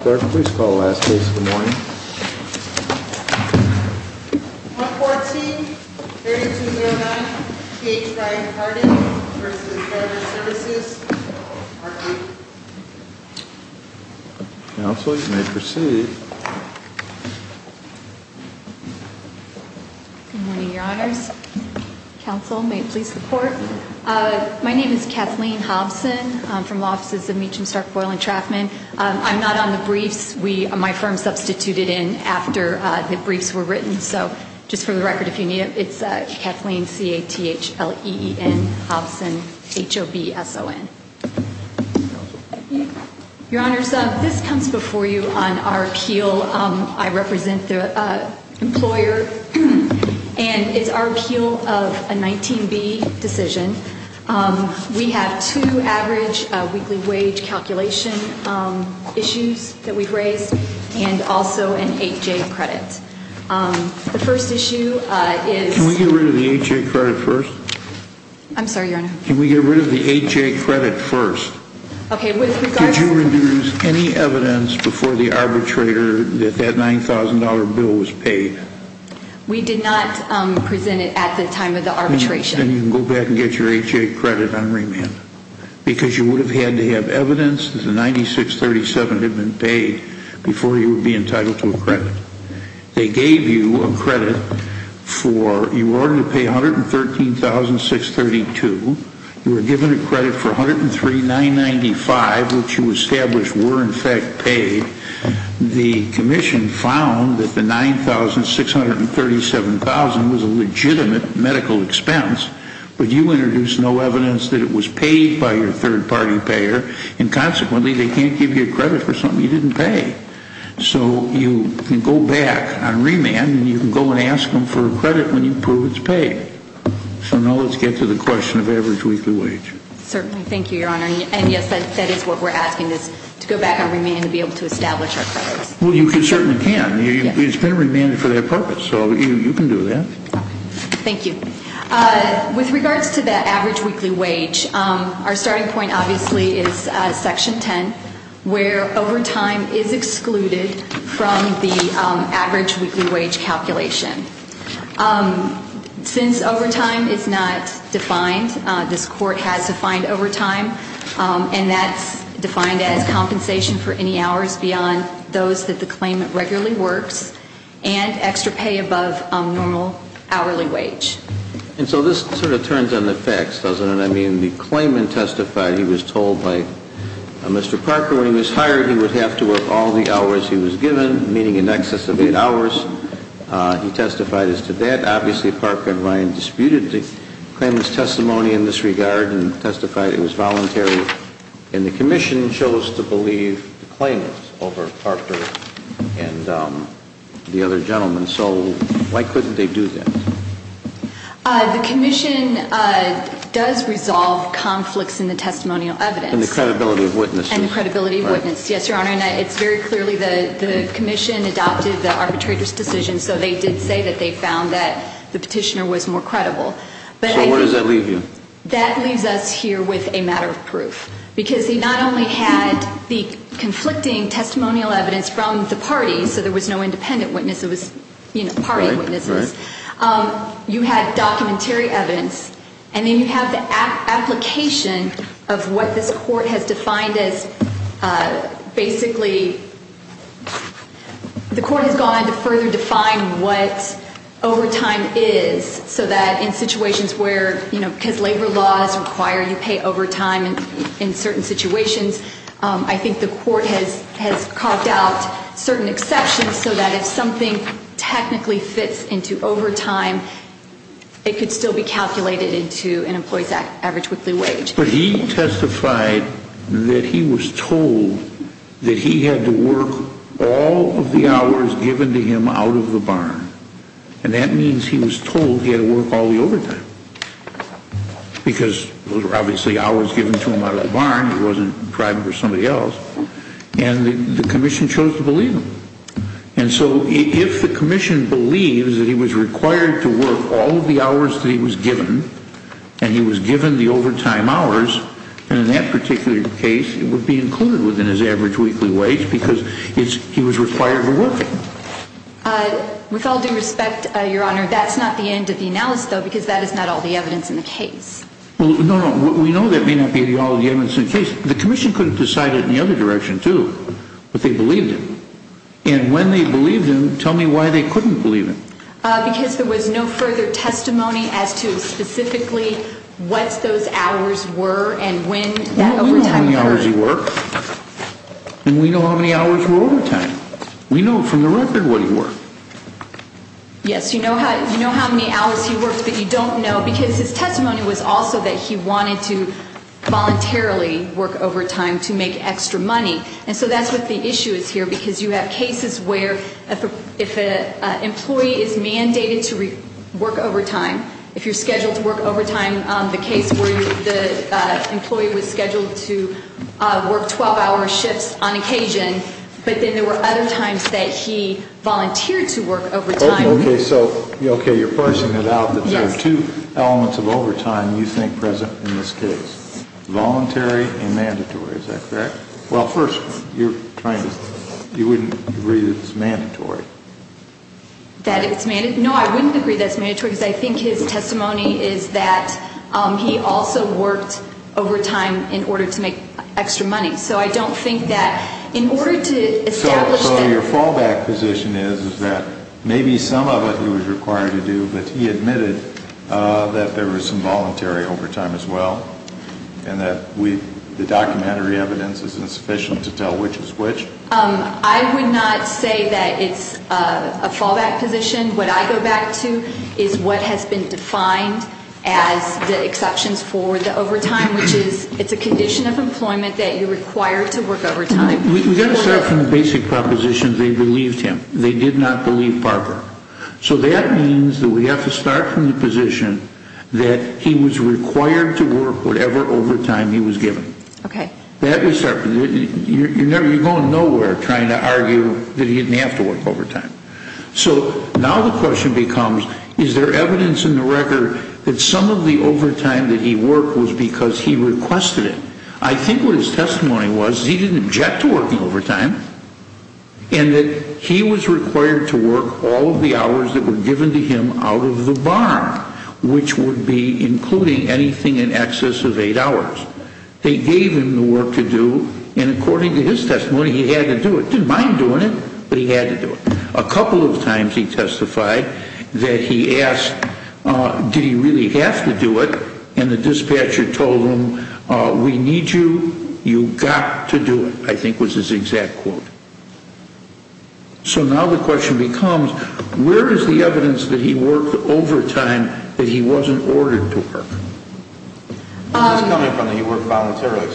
114-3209, KH Ryan Cartage v. Drivers Services, Part B. Counsel, you may proceed. Good morning, Your Honors. Counsel, may it please the Court? My name is Kathleen Hobson. I'm from the offices of Meacham, Stark, Boyle, and Traffman. My firm substituted in after the briefs were written, so just for the record, if you need it, it's Kathleen, C-A-T-H-L-E-E-N, Hobson, H-O-B-S-O-N. Your Honors, this comes before you on our appeal. I represent the employer, and it's our appeal of a 19-B decision. We have two average weekly wage calculation issues that we've raised, and also an 8-J credit. The first issue is... Can we get rid of the 8-J credit first? I'm sorry, Your Honor? Can we get rid of the 8-J credit first? Okay, with regard to... Did you reduce any evidence before the arbitrator that that $9,000 bill was paid? We did not present it at the time of the arbitration. Then you can go back and get your 8-J credit on remand. Because you would have had to have evidence that the 96-37 had been paid before you would be entitled to a credit. They gave you a credit for... You were ordered to pay $113,632. You were given a credit for $103,995, which you established were in fact paid. The Commission found that the $9,637,000 was a legitimate medical expense, but you introduced no evidence that it was paid by your third-party payer, and consequently they can't give you a credit for something you didn't pay. So you can go back on remand, and you can go and ask them for a credit when you prove it's paid. So now let's get to the question of average weekly wage. Certainly. Thank you, Your Honor. And yes, that is what we're asking, to go back on remand and be able to establish our credits. Well, you certainly can. It's been remanded for that purpose, so you can do that. Thank you. With regards to the average weekly wage, our starting point obviously is Section 10, where overtime is excluded from the average weekly wage calculation. Since overtime is not defined, this Court has defined overtime, and that's defined as compensation for any hours beyond those that the claimant regularly works and extra pay above normal hourly wage. And so this sort of turns on the facts, doesn't it? I mean, the claimant testified he was told by Mr. Parker when he was hired he would have to work all the hours he was given, meaning in excess of eight hours. He testified as to that. Obviously, Parker and Ryan disputed the claimant's testimony in this regard and testified it was voluntary. And the Commission chose to believe the claimant over Parker and the other gentlemen. So why couldn't they do that? The Commission does resolve conflicts in the testimonial evidence. And the credibility of witnesses. And the credibility of witnesses, yes, Your Honor. It's very clearly the Commission adopted the arbitrator's decision, so they did say that they found that the petitioner was more credible. So where does that leave you? That leaves us here with a matter of proof. Because they not only had the conflicting testimonial evidence from the parties, so there was no independent witness, it was party witnesses. Right, right. You had documentary evidence. And then you have the application of what this Court has defined as basically the Court has gone on to further define what overtime is, so that in situations where, you know, because labor laws require you pay overtime in certain situations, I think the Court has carved out certain exceptions so that if something technically fits into overtime, it could still be calculated into an employee's average weekly wage. But he testified that he was told that he had to work all of the hours given to him out of the barn. And that means he was told he had to work all the overtime. Because those were obviously hours given to him out of the barn. It wasn't private or somebody else. And the Commission chose to believe him. And so if the Commission believes that he was required to work all of the hours that he was given, and he was given the overtime hours, then in that particular case it would be included within his average weekly wage because he was required to work it. With all due respect, Your Honor, that's not the end of the analysis, though, because that is not all the evidence in the case. No, no. We know that may not be all the evidence in the case. The Commission could have decided in the other direction, too, but they believed him. And when they believed him, tell me why they couldn't believe him. Because there was no further testimony as to specifically what those hours were and when that overtime occurred. We know how many hours he worked. And we know how many hours were overtime. We know from the record what he worked. Yes, you know how many hours he worked that you don't know because his testimony was also that he wanted to voluntarily work overtime to make extra money. And so that's what the issue is here because you have cases where if an employee is mandated to work overtime, if you're scheduled to work overtime, the case where the employee was scheduled to work 12-hour shifts on occasion, but then there were other times that he volunteered to work overtime. Okay, so you're pushing it out that there are two elements of overtime you think present in this case, voluntary and mandatory. Is that correct? Well, first, you wouldn't agree that it's mandatory. No, I wouldn't agree that it's mandatory because I think his testimony is that he also worked overtime in order to make extra money. So I don't think that in order to establish that. So your fallback position is that maybe some of it he was required to do, but he admitted that there was some voluntary overtime as well and that the documentary evidence is insufficient to tell which is which? I would not say that it's a fallback position. What I go back to is what has been defined as the exceptions for the overtime, which is it's a condition of employment that you're required to work overtime. We've got to start from the basic proposition that they believed him. They did not believe Parker. So that means that we have to start from the position that he was required to work whatever overtime he was given. You're going nowhere trying to argue that he didn't have to work overtime. So now the question becomes, is there evidence in the record that some of the overtime that he worked was because he requested it? I think what his testimony was is he didn't object to working overtime and that he was required to work all of the hours that were given to him out of the barn, which would be including anything in excess of eight hours. They gave him the work to do, and according to his testimony, he had to do it. He didn't mind doing it, but he had to do it. A couple of times he testified that he asked, did he really have to do it? And the dispatcher told him, we need you, you've got to do it, I think was his exact quote. So now the question becomes, where is the evidence that he worked overtime that he wasn't ordered to work? Where is this coming from that he worked voluntarily? Where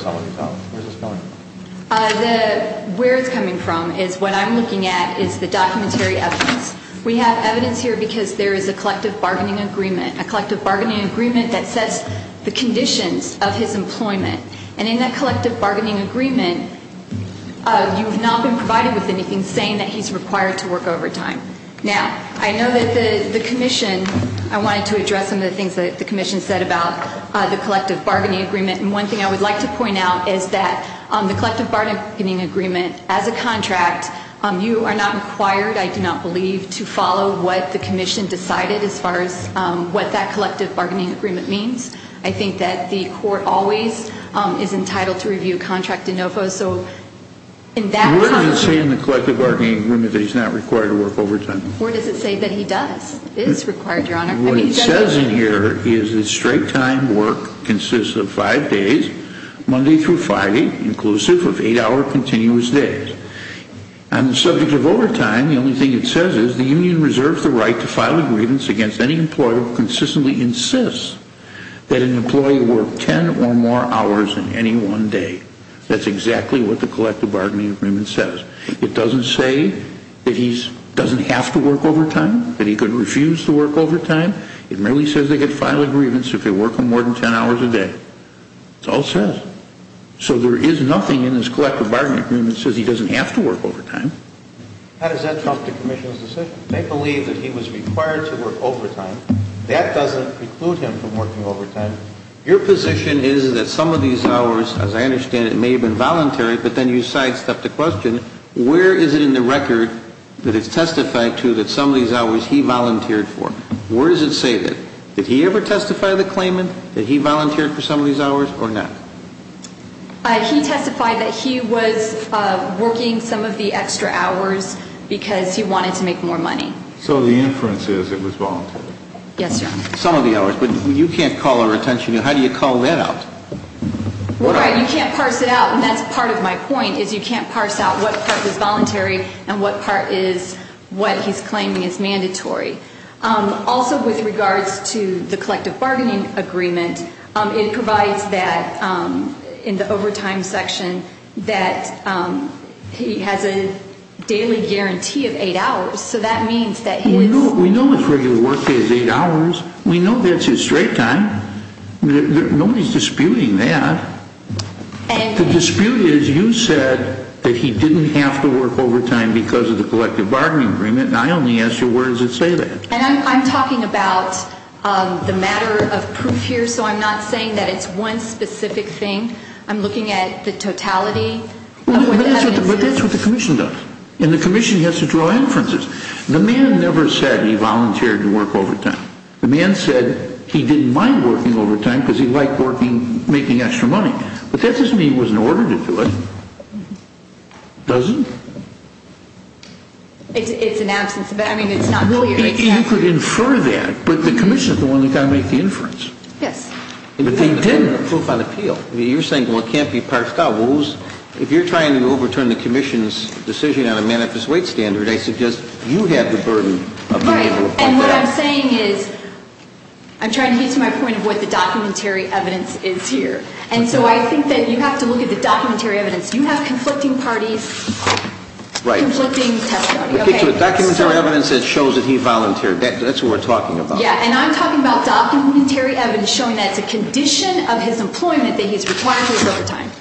it's coming from is what I'm looking at is the documentary evidence. We have evidence here because there is a collective bargaining agreement, a collective bargaining agreement that sets the conditions of his employment. And in that collective bargaining agreement, you have not been provided with anything saying that he's required to work overtime. Now, I know that the commission, I wanted to address some of the things that the commission said about the collective bargaining agreement, and one thing I would like to point out is that the collective bargaining agreement as a contract, you are not required, I do not believe, to follow what the commission decided as far as what that collective bargaining agreement means. I think that the court always is entitled to review contract de novo. So in that context. What does it say in the collective bargaining agreement that he's not required to work overtime? What does it say that he does, is required, Your Honor? What it says in here is that straight time work consists of five days, Monday through Friday, inclusive of eight-hour continuous days. On the subject of overtime, the only thing it says is the union reserves the right to file a grievance against any employer who consistently insists that an employee work ten or more hours in any one day. That's exactly what the collective bargaining agreement says. It doesn't say that he doesn't have to work overtime, that he could refuse to work overtime. It merely says they could file a grievance if they work more than ten hours a day. That's all it says. So there is nothing in this collective bargaining agreement that says he doesn't have to work overtime. How does that trump the commission's decision? They believe that he was required to work overtime. That doesn't preclude him from working overtime. Your position is that some of these hours, as I understand it, may have been voluntary, but then you sidestepped the question, where is it in the record that it's testified to that some of these hours he volunteered for? Where does it say that? Did he ever testify to the claimant that he volunteered for some of these hours or not? He testified that he was working some of the extra hours because he wanted to make more money. So the inference is it was voluntary? Yes, sir. Some of the hours, but you can't call a retention. How do you call that out? You can't parse it out, and that's part of my point, is you can't parse out what part is voluntary and what part is what he's claiming is mandatory. Also, with regards to the collective bargaining agreement, it provides that in the overtime section that he has a daily guarantee of eight hours, so that means that his... We know his regular workday is eight hours. We know that's his straight time. Nobody's disputing that. The dispute is you said that he didn't have to work overtime because of the collective bargaining agreement, and I only ask you where does it say that? And I'm talking about the matter of proof here, so I'm not saying that it's one specific thing. I'm looking at the totality of what that means. But that's what the commission does, and the commission has to draw inferences. The man never said he volunteered to work overtime. The man said he didn't mind working overtime because he liked working, making extra money. But that doesn't mean he wasn't ordered to do it, does it? It's an absence of evidence. I mean, it's not clear. You could infer that, but the commission is the one that's got to make the inference. Yes. But they didn't approve on appeal. You're saying, well, it can't be parsed out. Well, if you're trying to overturn the commission's decision on a manifest wage standard, I suggest you have the burden of being able to... Right, and what I'm saying is I'm trying to get to my point of what the documentary evidence is here. And so I think that you have to look at the documentary evidence. You have conflicting parties, conflicting testimony. The documentary evidence shows that he volunteered. That's what we're talking about. Yeah, and I'm talking about documentary evidence showing that it's a condition of his employment that he's required to work overtime.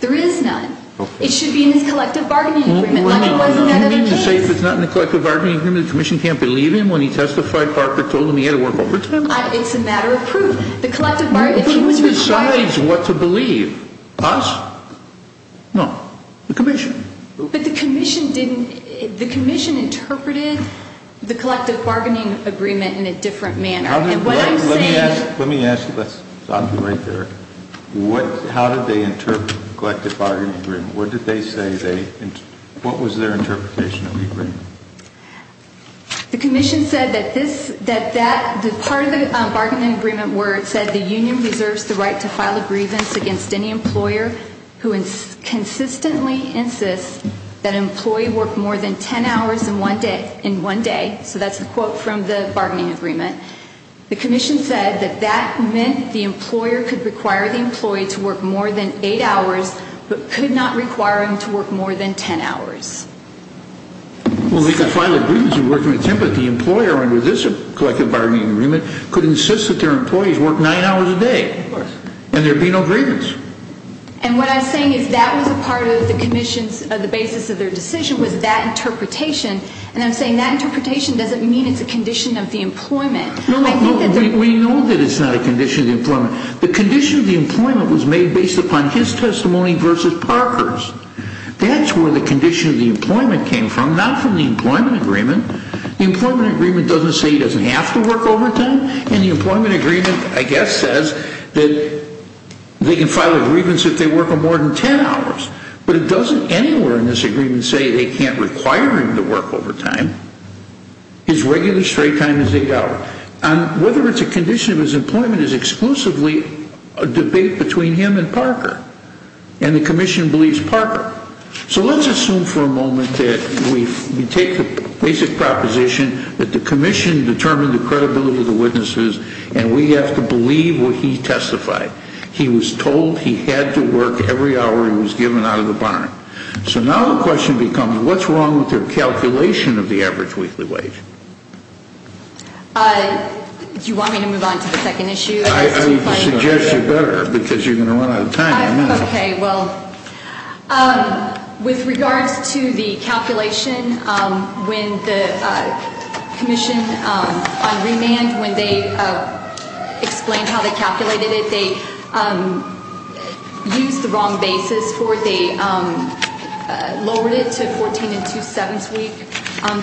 There is none. It should be in his collective bargaining agreement, like it was in that other case. You mean to say if it's not in the collective bargaining agreement, the commission can't believe him when he testified, Parker told him he had to work overtime? It's a matter of proof. The commission decides what to believe. Us? No. The commission. But the commission didn't... The commission interpreted the collective bargaining agreement in a different manner. And what I'm saying... Let me ask, let's stop you right there. How did they interpret the collective bargaining agreement? What did they say they... What was their interpretation of the agreement? The commission said that part of the bargaining agreement where it said the union reserves the right to file a grievance against any employer who consistently insists that an employee work more than 10 hours in one day. So that's the quote from the bargaining agreement. The commission said that that meant the employer could require the employee to work more than eight hours, but could not require him to work more than 10 hours. Well, they could file a grievance and work more than 10, but the employer under this collective bargaining agreement could insist that their employees work nine hours a day. Of course. And there would be no grievance. And what I'm saying is that was a part of the commission's, the basis of their decision was that interpretation. And I'm saying that interpretation doesn't mean it's a condition of the employment. No, no, no. We know that it's not a condition of the employment. The condition of the employment was made based upon his testimony versus Parker's. That's where the condition of the employment came from, not from the employment agreement. The employment agreement doesn't say he doesn't have to work overtime. And the employment agreement, I guess, says that they can file a grievance if they work more than 10 hours. But it doesn't anywhere in this agreement say they can't require him to work overtime, his regular straight time as they go. And whether it's a condition of his employment is exclusively a debate between him and Parker. And the commission believes Parker. So let's assume for a moment that we take the basic proposition that the commission determined the credibility of the witnesses and we have to believe what he testified. He was told he had to work every hour he was given out of the barn. So now the question becomes what's wrong with their calculation of the average weekly wage? Do you want me to move on to the second issue? I suggest you better because you're going to run out of time. Okay. Well, with regards to the calculation, when the commission on remand, when they explained how they calculated it, they used the wrong basis for it. They lowered it to 14 and two-sevenths week.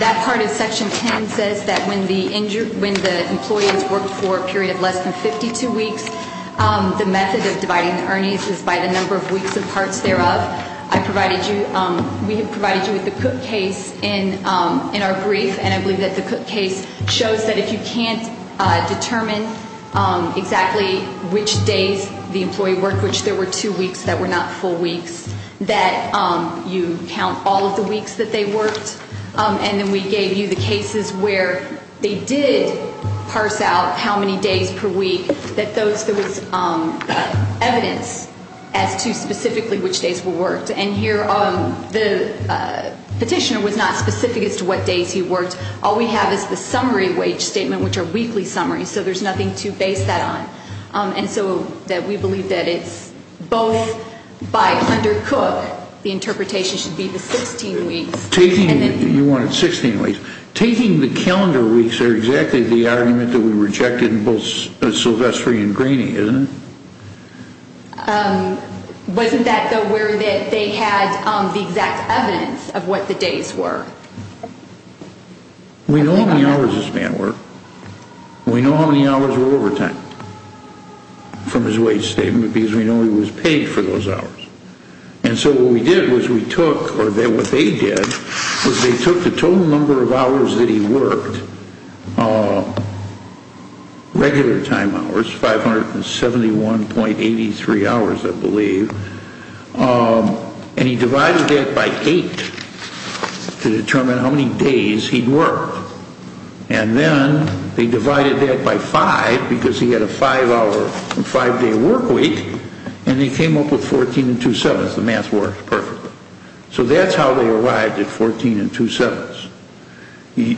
That part of Section 10 says that when the employees worked for a period of less than 52 weeks, the method of dividing the earnings is by the number of weeks and parts thereof. I provided you, we provided you with the Cook case in our brief, and I believe that the Cook case shows that if you can't determine exactly which days the employee worked, which there were two weeks that were not full weeks, that you count all of the weeks that they worked. And then we gave you the cases where they did parse out how many days per week, that there was evidence as to specifically which days were worked. And here the petitioner was not specific as to what days he worked. All we have is the summary wage statement, which are weekly summaries, so there's nothing to base that on. And so we believe that it's both by under Cook, the interpretation should be the 16 weeks. You wanted 16 weeks. Taking the calendar weeks, they're exactly the argument that we rejected in both Silvestri and Graney, isn't it? Wasn't that where they had the exact evidence of what the days were? We know how many hours this man worked. We know how many hours were overtime from his wage statement because we know he was paid for those hours. And so what we did was we took, or what they did, was they took the total number of hours that he worked, regular time hours, 571.83 hours, I believe, and he divided that by 8 to determine how many days he'd work. And then they divided that by 5 because he had a 5-day work week, and they came up with 14.27. The math worked perfectly. So that's how they arrived at 14.27.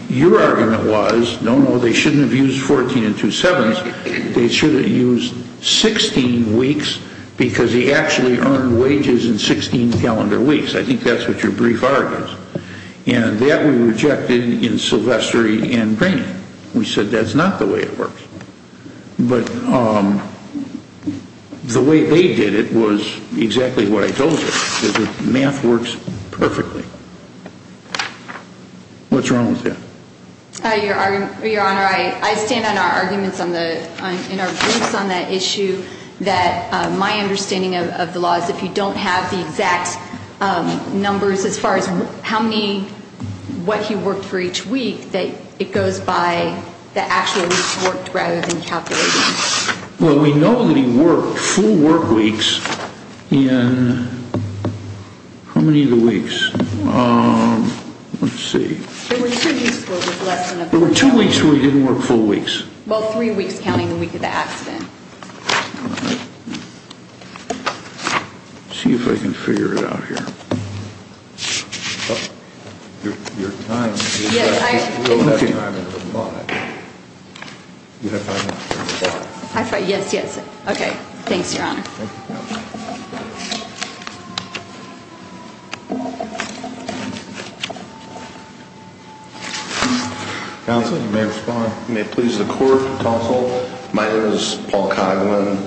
Your argument was, no, no, they shouldn't have used 14.27. They should have used 16 weeks because he actually earned wages in 16 calendar weeks. I think that's what your brief argument is. And that we rejected in Silvestri and Graney. We said that's not the way it works. But the way they did it was exactly what I told you, is that math works perfectly. What's wrong with that? Your Honor, I stand on our arguments in our briefs on that issue, that my understanding of the law is if you don't have the exact numbers as far as how many, what he worked for each week, that it goes by the actual weeks worked rather than calculating. Well, we know that he worked full work weeks in how many of the weeks? Let's see. There were two weeks where he didn't work full weeks. Well, three weeks counting the week of the accident. All right. Let's see if I can figure it out here. Your time is up. You don't have time to respond. Do you have time? Yes, yes. Okay. Thanks, Your Honor. Counsel, you may respond. May it please the Court, Counsel. My name is Paul Coghlan,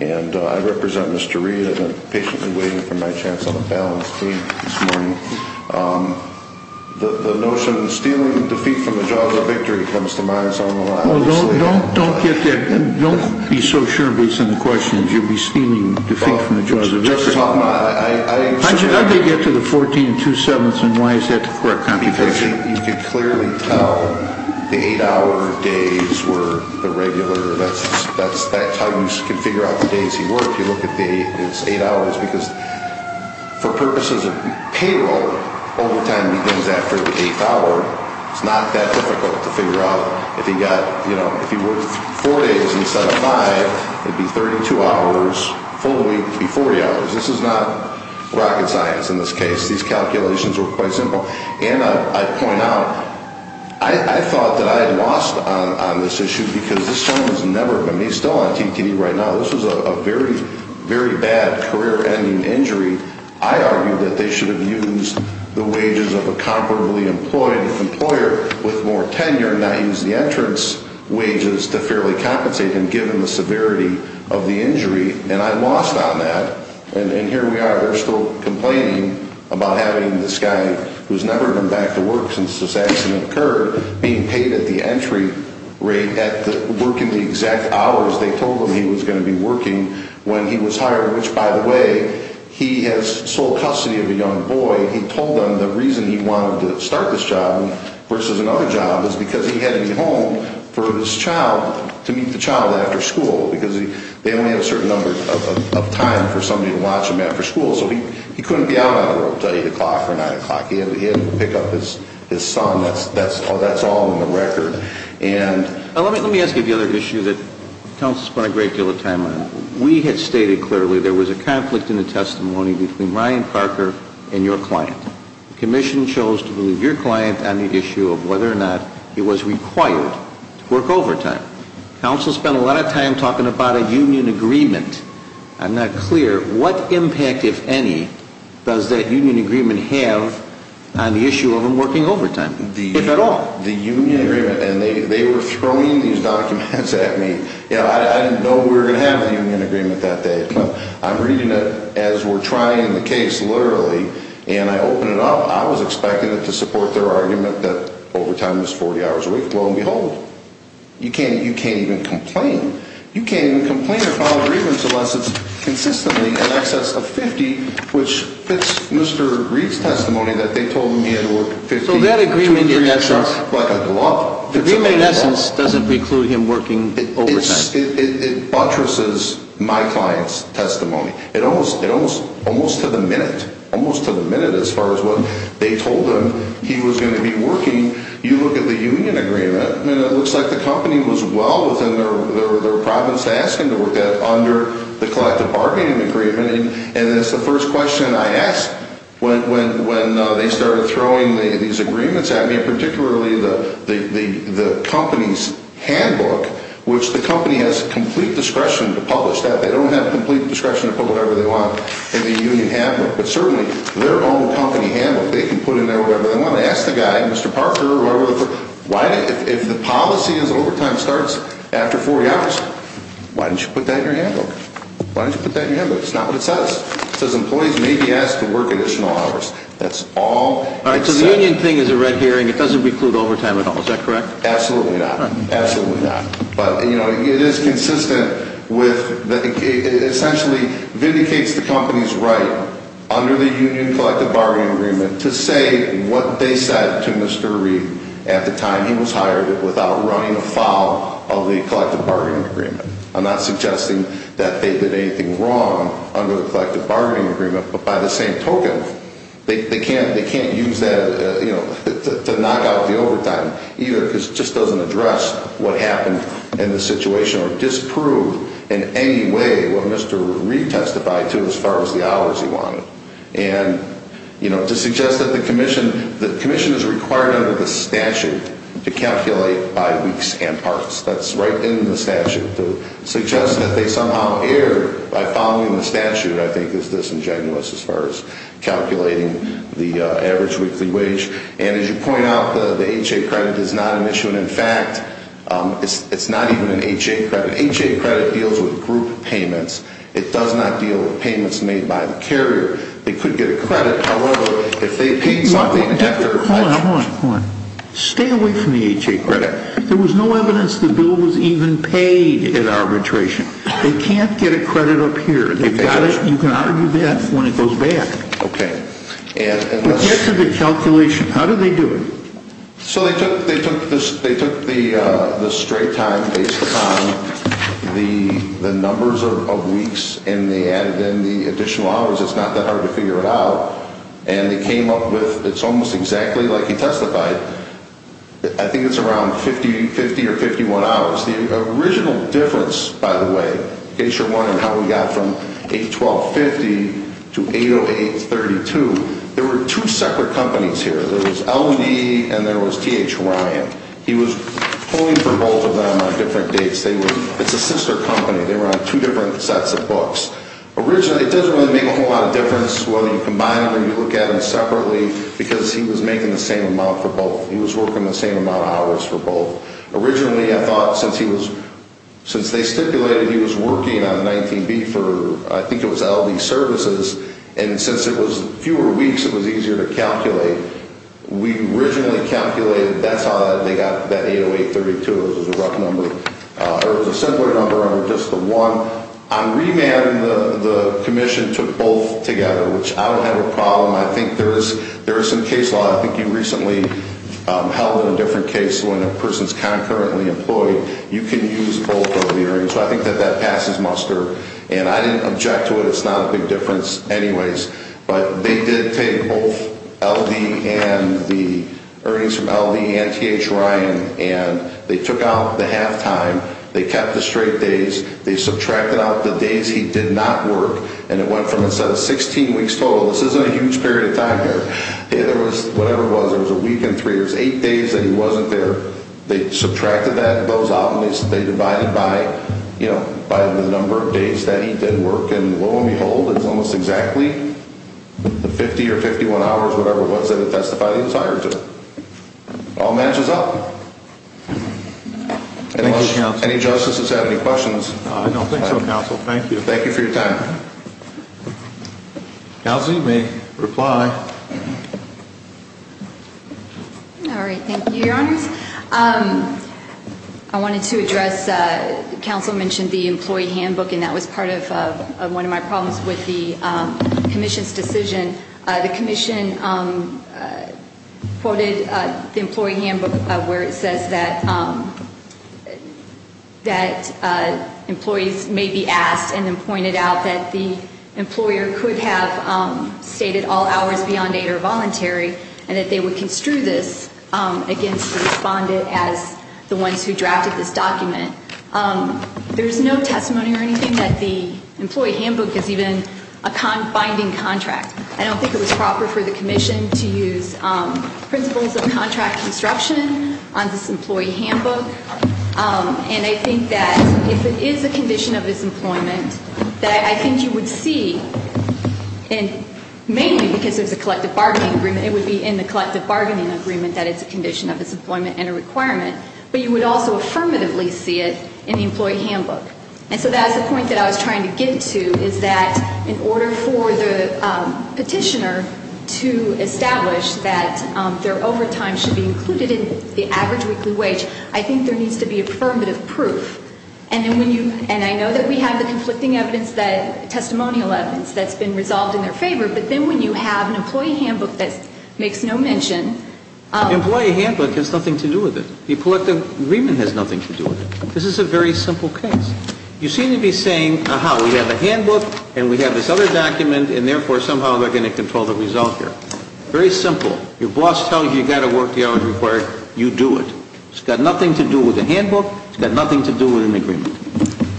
and I represent Mr. Reed. I've been patiently waiting for my chance on the balance team this morning. The notion of stealing defeat from the jaws of victory comes to mind, so I'm going to allow you to speak. Don't get that. Don't be so sure based on the questions. You'll be stealing defeat from the jaws of victory. Justice Hoffman, I said that. How did they get to the 14 and two-sevenths, and why is that the correct contradiction? You can clearly tell the eight-hour days were the regular. That's how you can figure out the days he worked. You look at the eight hours, because for purposes of payroll, overtime begins after the eighth hour. It's not that difficult to figure out. If he worked four days instead of five, it would be 32 hours. Full week would be 40 hours. This is not rocket science in this case. These calculations were quite simple. And I point out, I thought that I had lost on this issue because this gentleman has never been, he's still on TTD right now. This was a very, very bad career-ending injury. I argued that they should have used the wages of a comfortably employed employer with more tenure and not used the entrance wages to fairly compensate him given the severity of the injury, and I lost on that. And here we are. They're still complaining about having this guy, who's never been back to work since this accident occurred, being paid at the entry rate at working the exact hours they told him he was going to be working when he was hired, which, by the way, he has sole custody of a young boy. He told them the reason he wanted to start this job versus another job is because he had to be home for his child to meet the child after school because they only have a certain number of time for somebody to watch a man for school. So he couldn't be out on the road until 8 o'clock or 9 o'clock. He had to pick up his son. That's all in the record. Let me ask you the other issue that counsel spent a great deal of time on. We had stated clearly there was a conflict in the testimony between Ryan Parker and your client. Commission chose to believe your client on the issue of whether or not he was required to work overtime. Counsel spent a lot of time talking about a union agreement. I'm not clear. What impact, if any, does that union agreement have on the issue of him working overtime, if at all? The union agreement, and they were throwing these documents at me. I didn't know we were going to have a union agreement that day. I'm reading it as we're trying the case, literally, and I open it up. I was expecting it to support their argument that overtime is 40 hours a week. Lo and behold, you can't even complain. You can't even complain about a grievance unless it's consistently in excess of 50, which fits Mr. Reed's testimony that they told him he had to work 50 hours a week. So that agreement, in essence, doesn't preclude him working overtime. It buttresses my client's testimony. Almost to the minute, as far as what they told him, he was going to be working. You look at the union agreement, and it looks like the company was well within their province to ask him to work that under the collective bargaining agreement. And that's the first question I asked when they started throwing these agreements at me, and particularly the company's handbook, which the company has complete discretion to publish that. They don't have complete discretion to put whatever they want in the union handbook. But certainly, their own company handbook, they can put in there whatever they want. I'm going to ask the guy, Mr. Parker, if the policy is overtime starts after 40 hours, why didn't you put that in your handbook? Why didn't you put that in your handbook? It's not what it says. It says employees may be asked to work additional hours. That's all. All right, so the union thing is a red herring. It doesn't preclude overtime at all. Is that correct? Absolutely not. Absolutely not. But, you know, it is consistent with, it essentially vindicates the company's right, under the union collective bargaining agreement, to say what they said to Mr. Reed at the time he was hired without running afoul of the collective bargaining agreement. I'm not suggesting that they did anything wrong under the collective bargaining agreement, but by the same token, they can't use that, you know, to knock out the overtime either because it just doesn't address what happened in the situation or disprove in any way what Mr. Reed testified to as far as the hours he wanted. And, you know, to suggest that the commission, the commission is required under the statute to calculate by weeks and parts. That's right in the statute. To suggest that they somehow erred by following the statute, I think, is disingenuous as far as calculating the average weekly wage. And as you point out, the HA credit is not an issue. And, in fact, it's not even an HA credit. An HA credit deals with group payments. It does not deal with payments made by the carrier. They could get a credit. However, if they paid something after… Hold on, hold on, hold on. Stay away from the HA credit. There was no evidence the bill was even paid at arbitration. They can't get a credit up here. You can argue that when it goes back. Okay. But get to the calculation. How did they do it? So they took the straight time based upon the numbers of weeks and they added in the additional hours. It's not that hard to figure it out. And they came up with, it's almost exactly like he testified, I think it's around 50 or 51 hours. The original difference, by the way, in case you're wondering how we got from 812.50 to 808.32, there were two separate companies here. There was LD and there was T.H. Ryan. He was pulling for both of them on different dates. It's a sister company. They were on two different sets of books. Originally, it doesn't really make a whole lot of difference whether you combine them or you look at them separately because he was making the same amount for both. He was working the same amount of hours for both. Originally, I thought since he was, since they stipulated he was working on 19B for, I think it was LD services, and since it was fewer weeks, it was easier to calculate. We originally calculated that's how they got that 808.32. It was a rough number. It was a simpler number, just the one. On remanding, the commission took both together, which I don't have a problem. I think there is some case law. I think you recently held a different case when a person is concurrently employed. You can use both of the hearings. So I think that that passes muster. And I didn't object to it. It's not a big difference anyways. But they did take both LD and the earnings from LD and T.H. Ryan, and they took out the halftime. They kept the straight days. They subtracted out the days he did not work, and it went from a set of 16 weeks total. This isn't a huge period of time here. It was whatever it was. It was a week and three. It was eight days that he wasn't there. They subtracted those out, and they divided by the number of days that he did work. And lo and behold, it's almost exactly the 50 or 51 hours, whatever it was, that it testified he was hired to. It all matches up. Any justices have any questions? I don't think so, counsel. Thank you. Thank you for your time. Counsel, you may reply. All right. Thank you, Your Honors. I wanted to address, counsel mentioned the employee handbook, and that was part of one of my problems with the commission's decision. The commission quoted the employee handbook where it says that employees may be asked and then pointed out that the employer could have stated all hours beyond eight are voluntary and that they would construe this against the respondent as the ones who drafted this document. There's no testimony or anything that the employee handbook is even a binding contract. I don't think it was proper for the commission to use principles of contract construction on this employee handbook. And I think that if it is a condition of disemployment, that I think you would see, and mainly because there's a collective bargaining agreement, it would be in the collective bargaining agreement that it's a condition of disemployment and a requirement, but you would also affirmatively see it in the employee handbook. And so that's the point that I was trying to get to, is that in order for the petitioner to establish that their overtime should be included in the average weekly wage, I think there needs to be affirmative proof. And I know that we have the conflicting testimonial evidence that's been resolved in their favor, but then when you have an employee handbook that makes no mention... The employee handbook has nothing to do with it. The collective agreement has nothing to do with it. This is a very simple case. You seem to be saying, aha, we have a handbook and we have this other document and therefore somehow they're going to control the result here. Very simple. Your boss tells you you've got to work the hours required, you do it. It's got nothing to do with the handbook. It's got nothing to do with an agreement.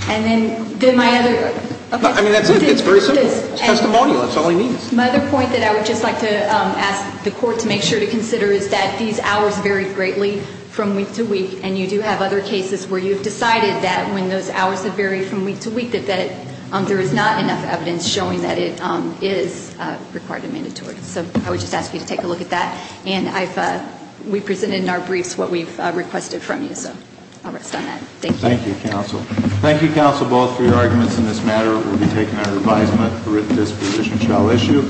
And then my other... I mean, that's it. It's very simple. It's testimonial. That's all he needs. My other point that I would just like to ask the Court to make sure to consider is that these hours vary greatly from week to week, and you do have other cases where you've decided that when those hours have varied from week to week that there is not enough evidence showing that it is required and mandatory. So I would just ask you to take a look at that. And we presented in our briefs what we've requested from you, so I'll rest on that. Thank you. Thank you, Counsel. Thank you, Counsel, both for your arguments in this matter. We'll be taking our advisement that this position shall issue.